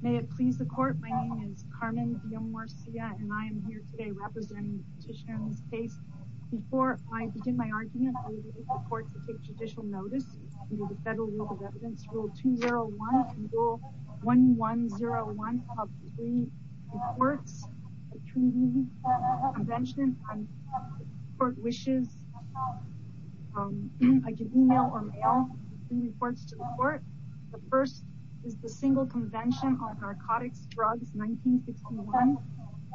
May it please the Court, my name is Carmen Villamorcia and I am here today representing the petitioner in this case. Before I begin my argument, I would like the Court to take judicial notice under the Federal Rule of Evidence, Rule 201 and Rule 1101, of three reports between Convention and Court Wishes. I can email or mail three reports to the Court. The first is the Single Convention on Narcotics, Drugs, 1961.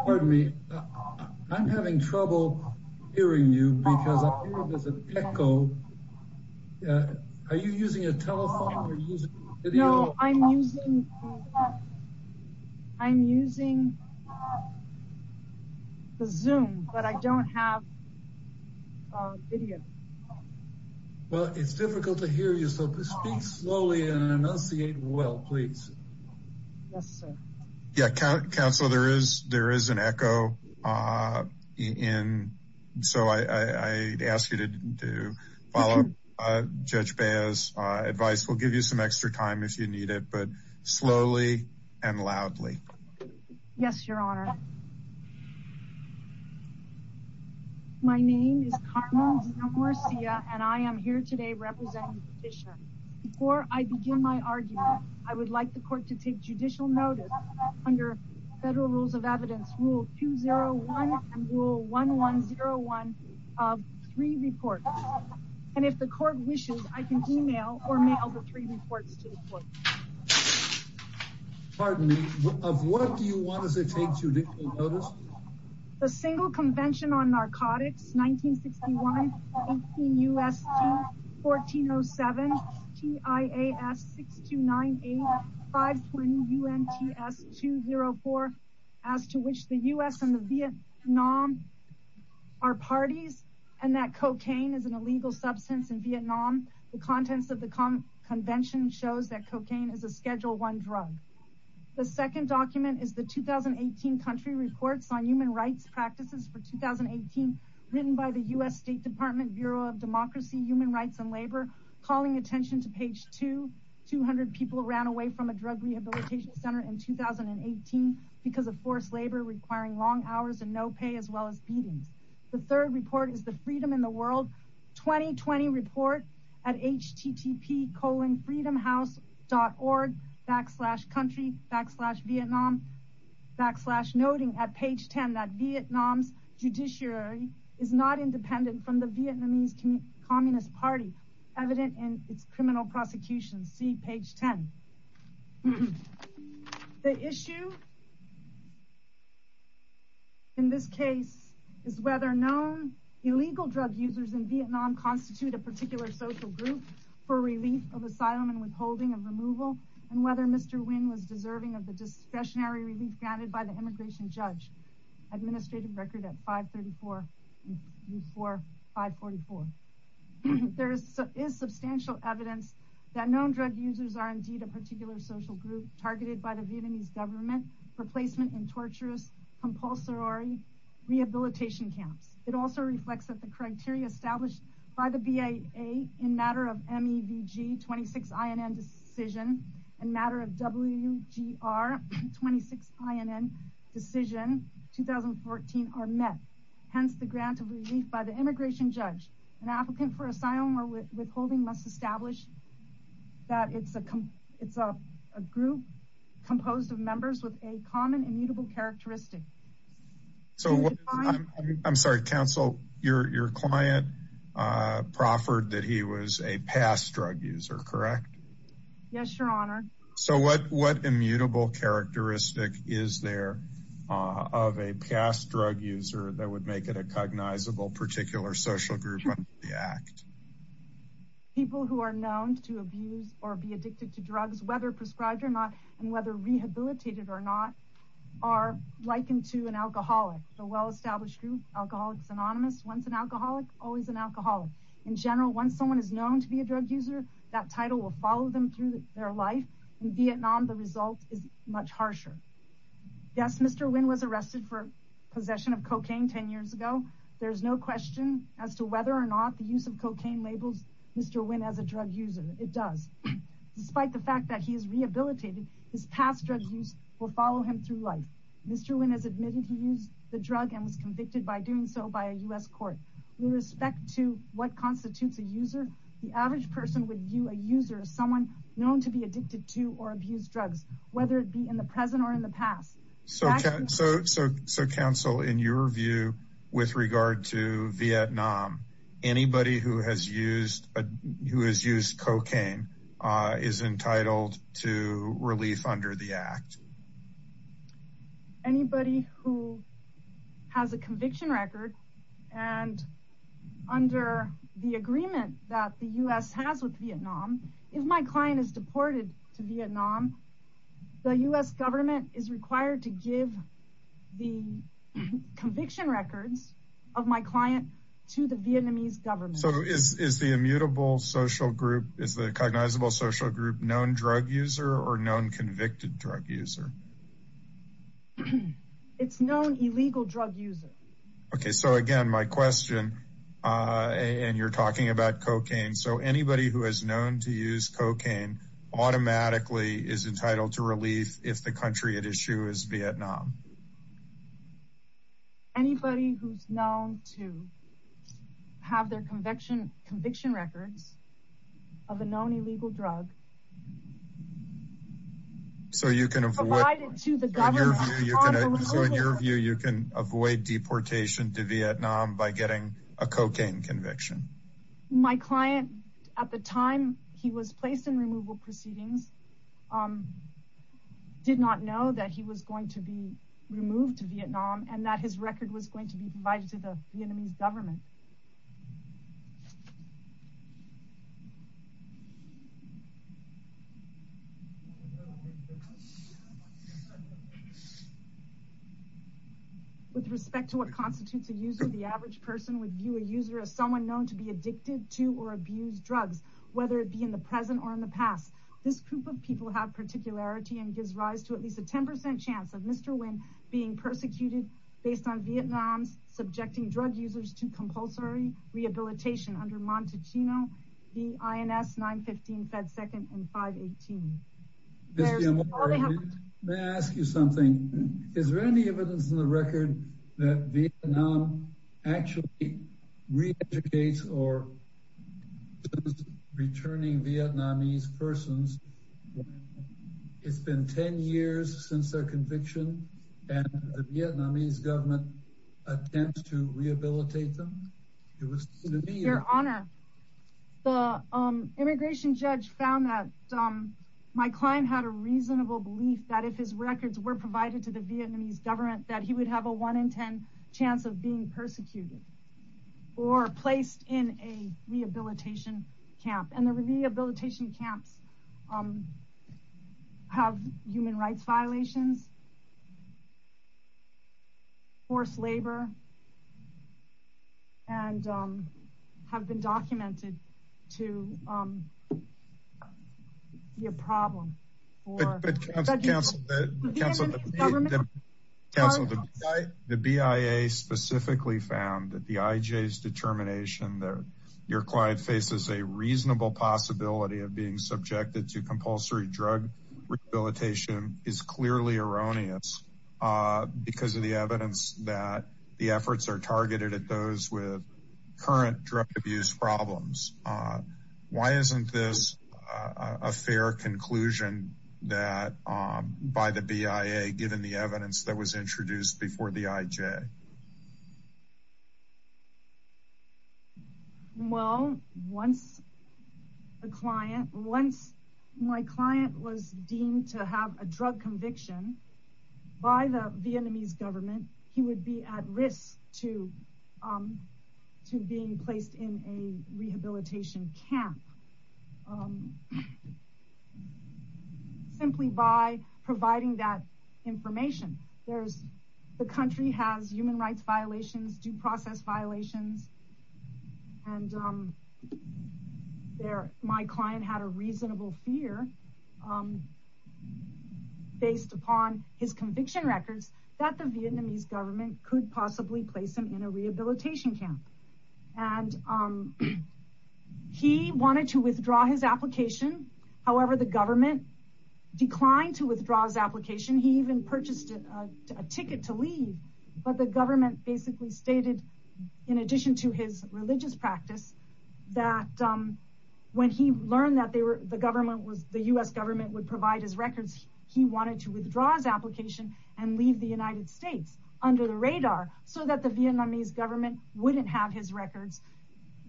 Pardon me, I'm having trouble hearing you because I hear there's an echo. Are you using a telephone or using video? No, I'm using Zoom, but I don't have video. Well, it's difficult to hear you, so speak slowly and enunciate well, please. Yes, sir. Yeah, Counselor, there is an echo, so I ask you to follow up Judge Beah's advice. We'll give you some extra time if you need it, but slowly and loudly. Yes, Your Honor. My name is Carmen Villamorcia and I am here today representing the petitioner. Before I begin my argument, I would like the Court to take judicial notice under the Federal Rule of Evidence, Rule 201 and Rule 1101, of three reports. And if the Court wishes, I can email or mail the three reports to the Court. Pardon me, of what do you want us to take judicial notice? The Single Convention on Narcotics, 1961, 18 U.S.C., 1407, T.I.A.S. 6298, 520 U.N.T.S. 204, as to which the U.S. and the Vietnam are parties and that cocaine is an illegal substance in Vietnam. The contents of the convention shows that cocaine is a Schedule I drug. The second document is the 2018 Country Reports on Human Rights Practices for 2018, written by the U.S. State Department Bureau of Democracy, Human Rights and Labor, calling attention to page 2. 200 people ran away from a drug rehabilitation center in 2018 because of forced labor requiring long hours and no pay, as well as beatings. The third report is the Freedom in the World 2020 report at http://freedomhouse.org, backslash country, backslash Vietnam, backslash noting at page 10 that Vietnam's judiciary is not independent from the Vietnamese Communist Party, evident in its criminal prosecution. See page 10. The issue in this case is whether known illegal drug users in Vietnam constitute a particular social group for relief of asylum and withholding of removal, and whether Mr. Nguyen was deserving of the discretionary relief granted by the immigration judge. See page 11. See page 12. See page 13. See page 14. See page 15. See page 16. See page 19. See page 20. See page 21. See page 22. See page 26. See page 27. See page 28. See page 29. See page 30. See page 4. See page 80. See page 91. See page 92. See page 93. See page 95. See page 86. See page 97. See page 98. See page 10. See page 14. See page 15. See page 56. See page 57. It's been 10 years since their conviction and the Vietnamese government attempts to rehabilitate them? Your Honor, the immigration judge found that my client had a reasonable belief that if his records were provided to the Vietnamese government that he would have a 1 in 10 chance of being persecuted or placed in a rehabilitation camp and the rehabilitation camps have human rights violations, forced labor, and have been documented to be a problem. But counsel, counsel, the BIA specifically found that the IJ's determination that your client faces a reasonable possibility of being subjected to compulsory drug rehabilitation is clearly erroneous because of the evidence that the efforts are targeted at those with current drug abuse problems. Why isn't this a fair conclusion by the BIA given the evidence that was introduced before the IJ? Well, once my client was deemed to have a drug conviction by the Vietnamese government, he would be at risk to being placed in a rehabilitation camp simply by providing that information. The country has human rights violations, due process violations, and my client had a reasonable fear based upon his conviction records that the Vietnamese government could possibly place him in a rehabilitation camp. He wanted to withdraw his application. However, the government declined to withdraw his application. He even purchased a ticket to leave, but the government basically stated, in addition to his religious practice, that when he learned that the U.S. government would provide his records, he wanted to withdraw his application and leave the United States under the radar so that the Vietnamese government wouldn't have his records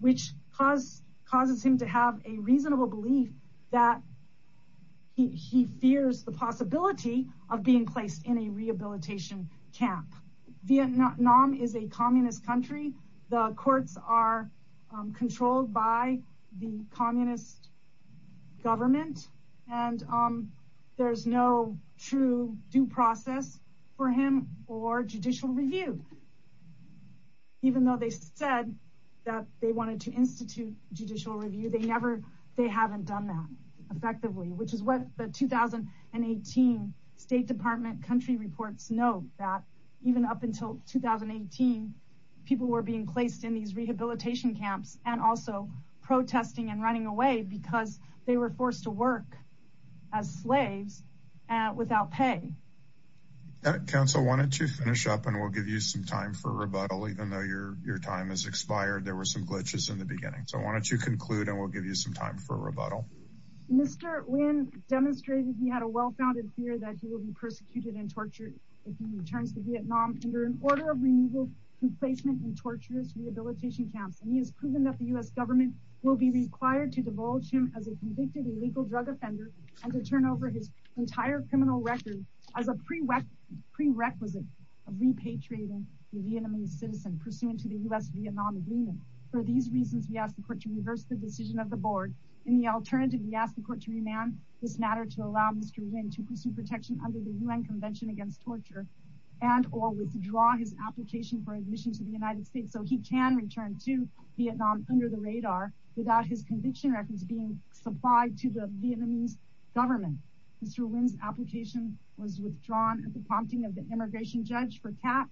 which causes him to have a reasonable belief that he fears the possibility of being placed in a rehabilitation camp. Vietnam is a communist country. The courts are controlled by the communist government and there is no true due process for him or judicial review. Even though they said that they wanted to institute judicial review, they haven't done that effectively, which is what the 2018 State Department country reports note that even up until 2018, people were being placed in these rehabilitation camps and also protesting and running away because they were forced to work as slaves without pay. Council, why don't you finish up and we'll give you some time for rebuttal. Even though your time has expired, there were some glitches in the beginning. Why don't you conclude and we'll give you some time for rebuttal. Mr. Nguyen demonstrated he had a well-founded fear that he will be persecuted and tortured if he returns to Vietnam under an order of removal, complacement and torturous rehabilitation camps and he has proven that the U.S. government will be required to divulge him as a convicted illegal drug offender and to turn over his entire criminal record as a prerequisite of repatriating the Vietnamese citizen pursuant to the U.S.-Vietnam agreement. For these reasons, we ask the court to reverse the decision of the board. In the alternative, we ask the court to remand this matter to allow Mr. Nguyen to pursue protection under the U.N. Convention Against Torture and or withdraw his application for admission to the United States so he can return to Vietnam under the radar without his conviction records being supplied to the Vietnamese government. Mr. Nguyen's application was withdrawn at the prompting of the immigration judge for cap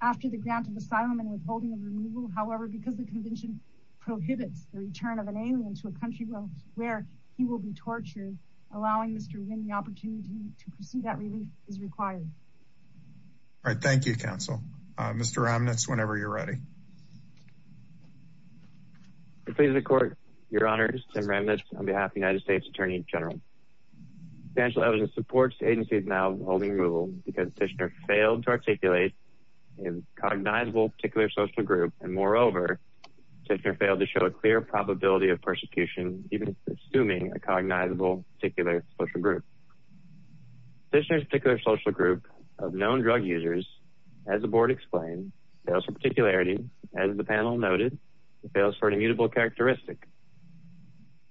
after the grant of asylum and withholding of removal. However, because the convention prohibits the return of an alien to a country where he will be tortured, allowing Mr. Nguyen the opportunity to pursue that relief is required. Thank you, counsel. Mr. Ramnitz, whenever you're ready. Your Honor, I'm Tim Ramnitz on behalf of the United States Attorney General. Substantial evidence supports that this agency is now holding removal because Tishner failed to articulate a cognizable particular social group. And moreover, Tishner failed to show a clear probability of persecution, even assuming a cognizable particular social group. Tishner's particular social group of known drug users, as the board explained, fails for particularity. As the panel noted, it fails for an immutable characteristic.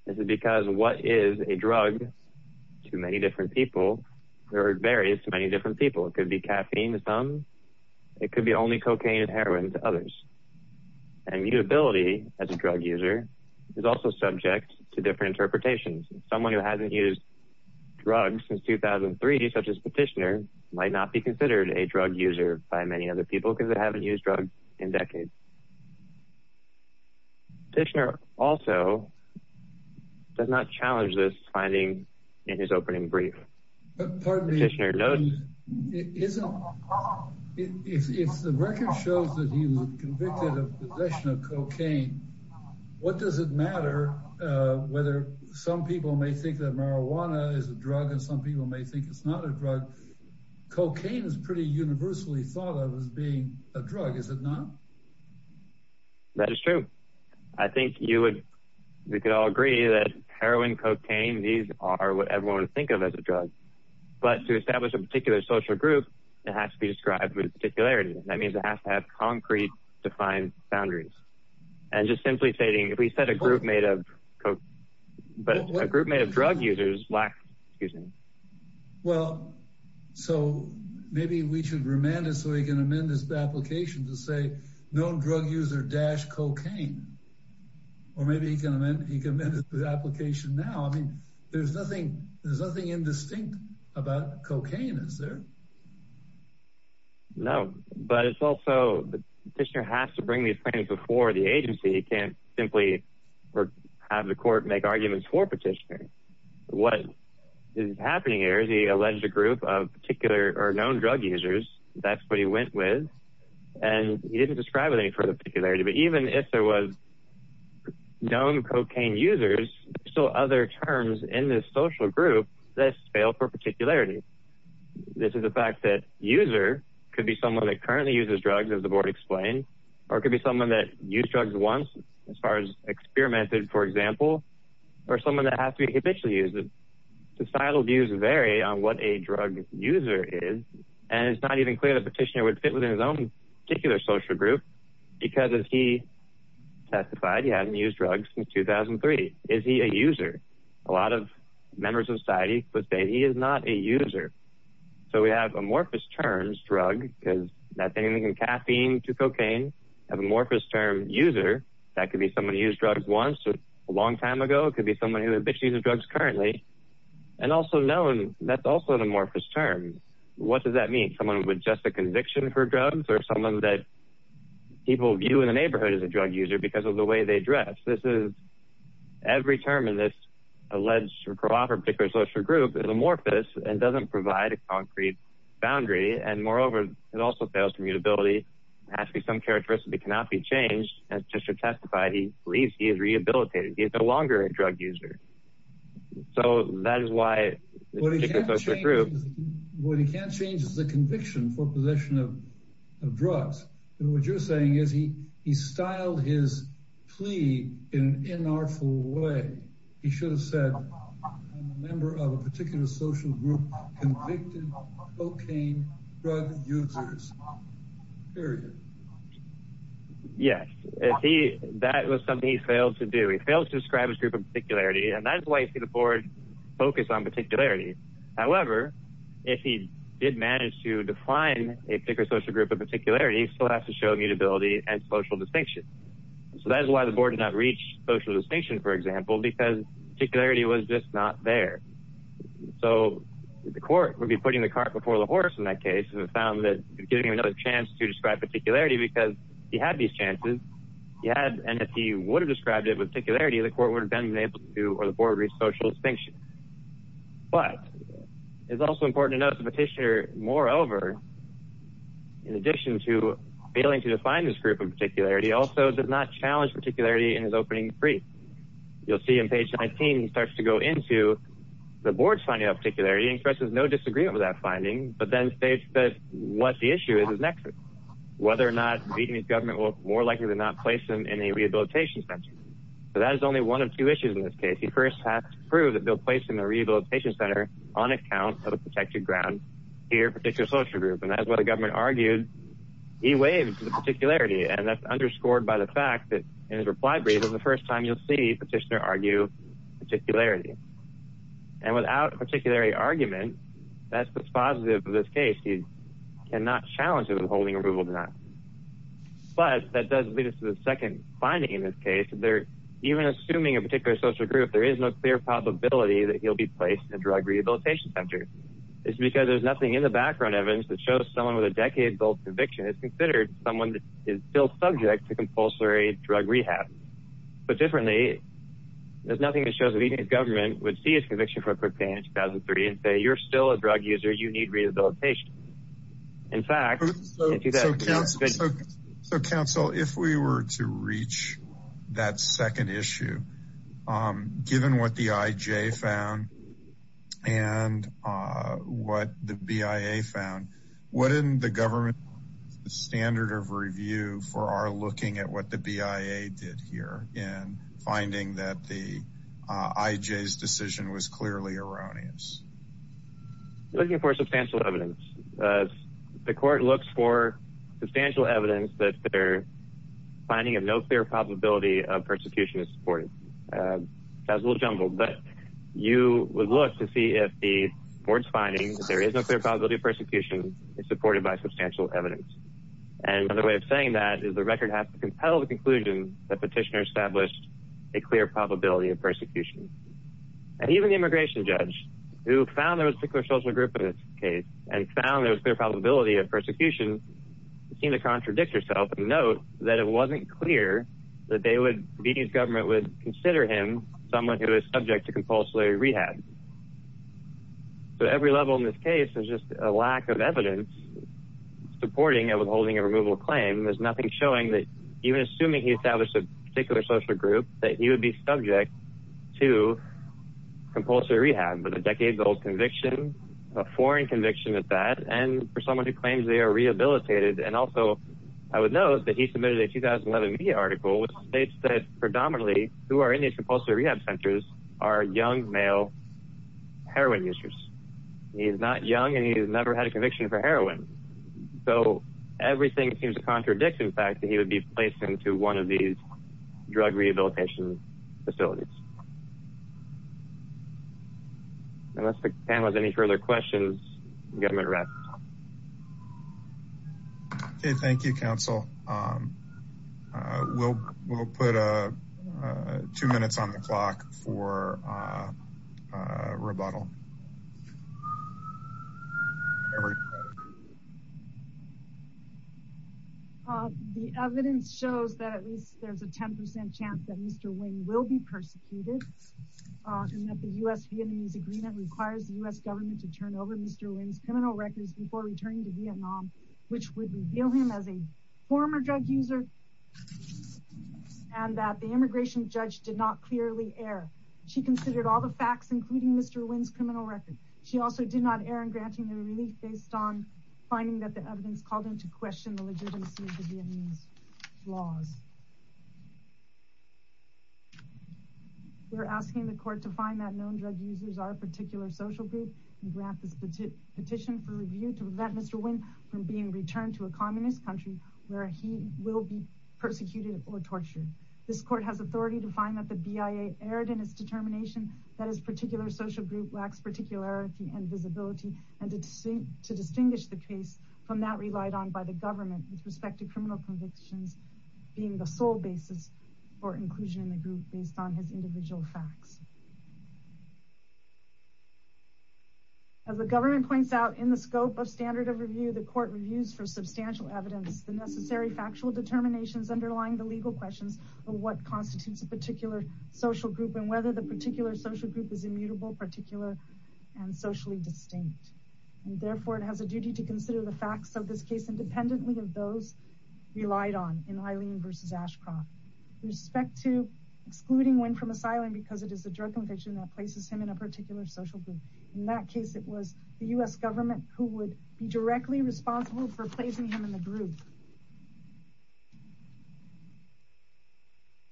This is because what is a drug to many different people varies to many different people. It could be caffeine to some. It could be only cocaine and heroin to others. Immutability as a drug user is also subject to different interpretations. Someone who hasn't used drugs since 2003, such as Tishner, might not be considered a drug user by many other people because they haven't used drugs in decades. Tishner also does not challenge this finding in his opening brief. Pardon me. Tishner noted. If the record shows that he was convicted of possession of cocaine, what does it matter whether some people may think that marijuana is a drug and some people may think it's not a drug? Cocaine is pretty universally thought of as being a drug, is it not? That is true. I think we could all agree that heroin, cocaine, these are what everyone would think of as a drug. But to establish a particular social group, it has to be described with particularity. That means it has to have concrete defined boundaries. And just simply stating, if we set a group made of drug users, Well, so maybe we should remand it so we can amend this application to say known drug user dash cocaine. Or maybe he can amend the application now. I mean, there's nothing indistinct about cocaine, is there? No, but it's also Tishner has to bring these claims before the agency. He can't simply have the court make arguments for petitioner. What is happening here is he alleged a group of particular or known drug users. That's what he went with. And he didn't describe it with any particularity. But even if there was known cocaine users, there's still other terms in this social group that spell for particularity. This is the fact that user could be someone that currently uses drugs, as the board explained, or it could be someone that used drugs once as far as experimented, for example, or someone that has to be habitually used. Societal views vary on what a drug user is. And it's not even clear that Tishner would fit within his own particular social group because as he testified, he hasn't used drugs since 2003. Is he a user? A lot of members of society would say he is not a user. So we have amorphous terms drug because that's anything from caffeine to cocaine. Amorphous term user, that could be someone who used drugs once or a long time ago. It could be someone who habitually uses drugs currently. And also known, that's also an amorphous term. What does that mean? Someone with just a conviction for drugs or someone that people view in the neighborhood as a drug user because of the way they dress. Every term in this alleged or proper particular social group is amorphous and doesn't provide a concrete boundary. And moreover, it also fails to mutability. Actually, some characteristics cannot be facilitated. He's no longer a drug user. So that is why... What he can't change is the conviction for possession of drugs. And what you're saying is he styled his plea in an inartful way. He should have said a member of a particular social group convicted cocaine drug users. Period. Yes. That was something he failed to do. He failed to describe his group of particularity. And that is why you see the board focus on particularity. However, if he did manage to define a particular social group of particularity, he still has to show mutability and social distinction. So that is why the board did not reach social distinction, for example, because particularity was just not there. So the court would be putting the cart before the horse in that case and found that giving him another chance to describe particularity because he had these chances. And if he would have described it with particularity, the court would have been unable to or the board would have reached social distinction. But it's also important to note the petitioner, moreover, in addition to failing to define this group of particularity, also did not challenge particularity in his opening brief. You'll see on page 19, he starts to go into the board's group of particularity and expresses no disagreement with that finding, but then states that what the issue is is nexus. Whether or not the government will more likely than not place him in a rehabilitation center. So that is only one of two issues in this case. He first has to prove that they'll place him in a rehabilitation center on account of a protected ground here in a particular social group. And that's why the government argued he waived the particularity. And that's underscored by the fact that in his reply brief is the first time you'll see petitioner argue with particularity. And without a particular argument, that's what's positive in this case. You cannot challenge him in holding approval to that. But that does lead us to the second finding in this case. Even assuming a particular social group, there is no clear probability that he'll be placed in a drug rehabilitation center. It's because there's nothing in the background evidence that shows someone with a decade-old conviction is considered someone that is still subject to compulsory drug rehab. But differently, there's nothing that shows that even the government would see his conviction for cocaine in 2003 and say, you're still a drug user. You need rehabilitation. In fact... So counsel, if we were to reach that second issue, given what the IJ found and what the BIA found, wouldn't the government standard of review for our looking at what the BIA did here in finding that the IJ's decision was clearly erroneous? Looking for substantial evidence. The court looks for substantial evidence that their finding of no clear probability of persecution is supported. That's a little jumbled, but you would look to see if the court's finding that there is no clear probability of persecution is supported by substantial evidence. And another way of saying that is the record has to compel the conclusion that the petitioner established a clear probability of persecution. And even the immigration judge, who found there was a particular social group in this case and found there was a clear probability of persecution, seemed to contradict herself and note that it wasn't clear that the government would consider him someone who is subject to compulsory rehab. So every level in this case is just a lack of evidence supporting and withholding a removal claim. There's nothing showing that even assuming he established a particular social group, that he would be subject to compulsory rehab with a decade-old conviction, a foreign conviction at that, and for someone who claims they are rehabilitated. And also, I would note that he submitted a 2011 media article which states that predominantly who are in heroin users. He is not young and he has never had a conviction for heroin. So everything seems to contradict the fact that he would be placed into one of these drug rehabilitation facilities. Unless the panel has any further questions, the government rests. Okay, thank you, counsel. We'll put two minutes on the clock for rebuttal. The evidence shows that at least there's a 10% chance that Mr. Wing will be persecuted and that the U.S.-Vietnamese agreement requires the U.S. government to turn over Mr. Wing's criminal records before returning to Vietnam, which would reveal him as a former drug user and that the immigration judge did not clearly err. She considered all the facts, including Mr. Wing's criminal record. She also did not err in granting him relief based on finding that the evidence called him to question the legitimacy of the Vietnamese laws. We're asking the court to find that known drug users are a particular social group and grant this petition for review to prevent Mr. Wing from being returned to a communist country where he will be persecuted or tortured. This court has authority to find that the BIA erred in its determination that his particular social group lacks particularity and visibility and to distinguish the case from that relied on by the government with respect to criminal convictions being the sole basis for inclusion in the group based on his individual facts. As the government points out in the scope of standard of review, the court reviews for substantial evidence the necessary factual determinations underlying the legal questions of what constitutes a particular social group and whether the particular social group is immutable, particular and socially distinct. Therefore, it has a duty to consider the facts of this case independently of those relied on in Eileen v. Ashcroft with respect to excluding Wing from asylum because it is a drug conviction that places him in a particular social group. In that case, it was the U.S. government who would be directly responsible for placing him in the group.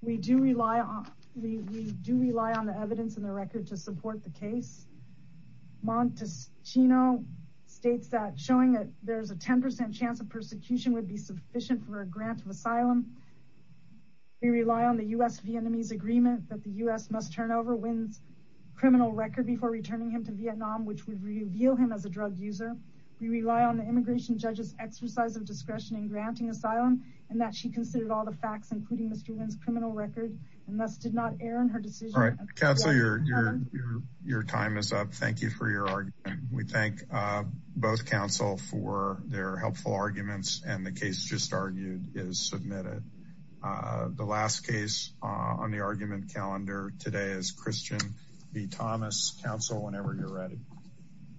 We do rely on the evidence in the record to support the case. Montesquino states that showing that there's a 10% chance of persecution would be sufficient for a grant of asylum. We rely on the U.S.-Vietnamese agreement that the U.S. must turn over Wing's criminal record before returning him to Vietnam which would reveal him as a drug user. We rely on the immigration judge's exercise of discretion in granting asylum and that she considered all the facts including Mr. Wing's criminal record and thus did not err in her decision. Counsel, your time is up. Thank you for your argument. We thank both counsel for their helpful arguments and the case just argued is submitted. The last case on the argument calendar today is Christian B. Thomas. Counsel, whenever you're ready.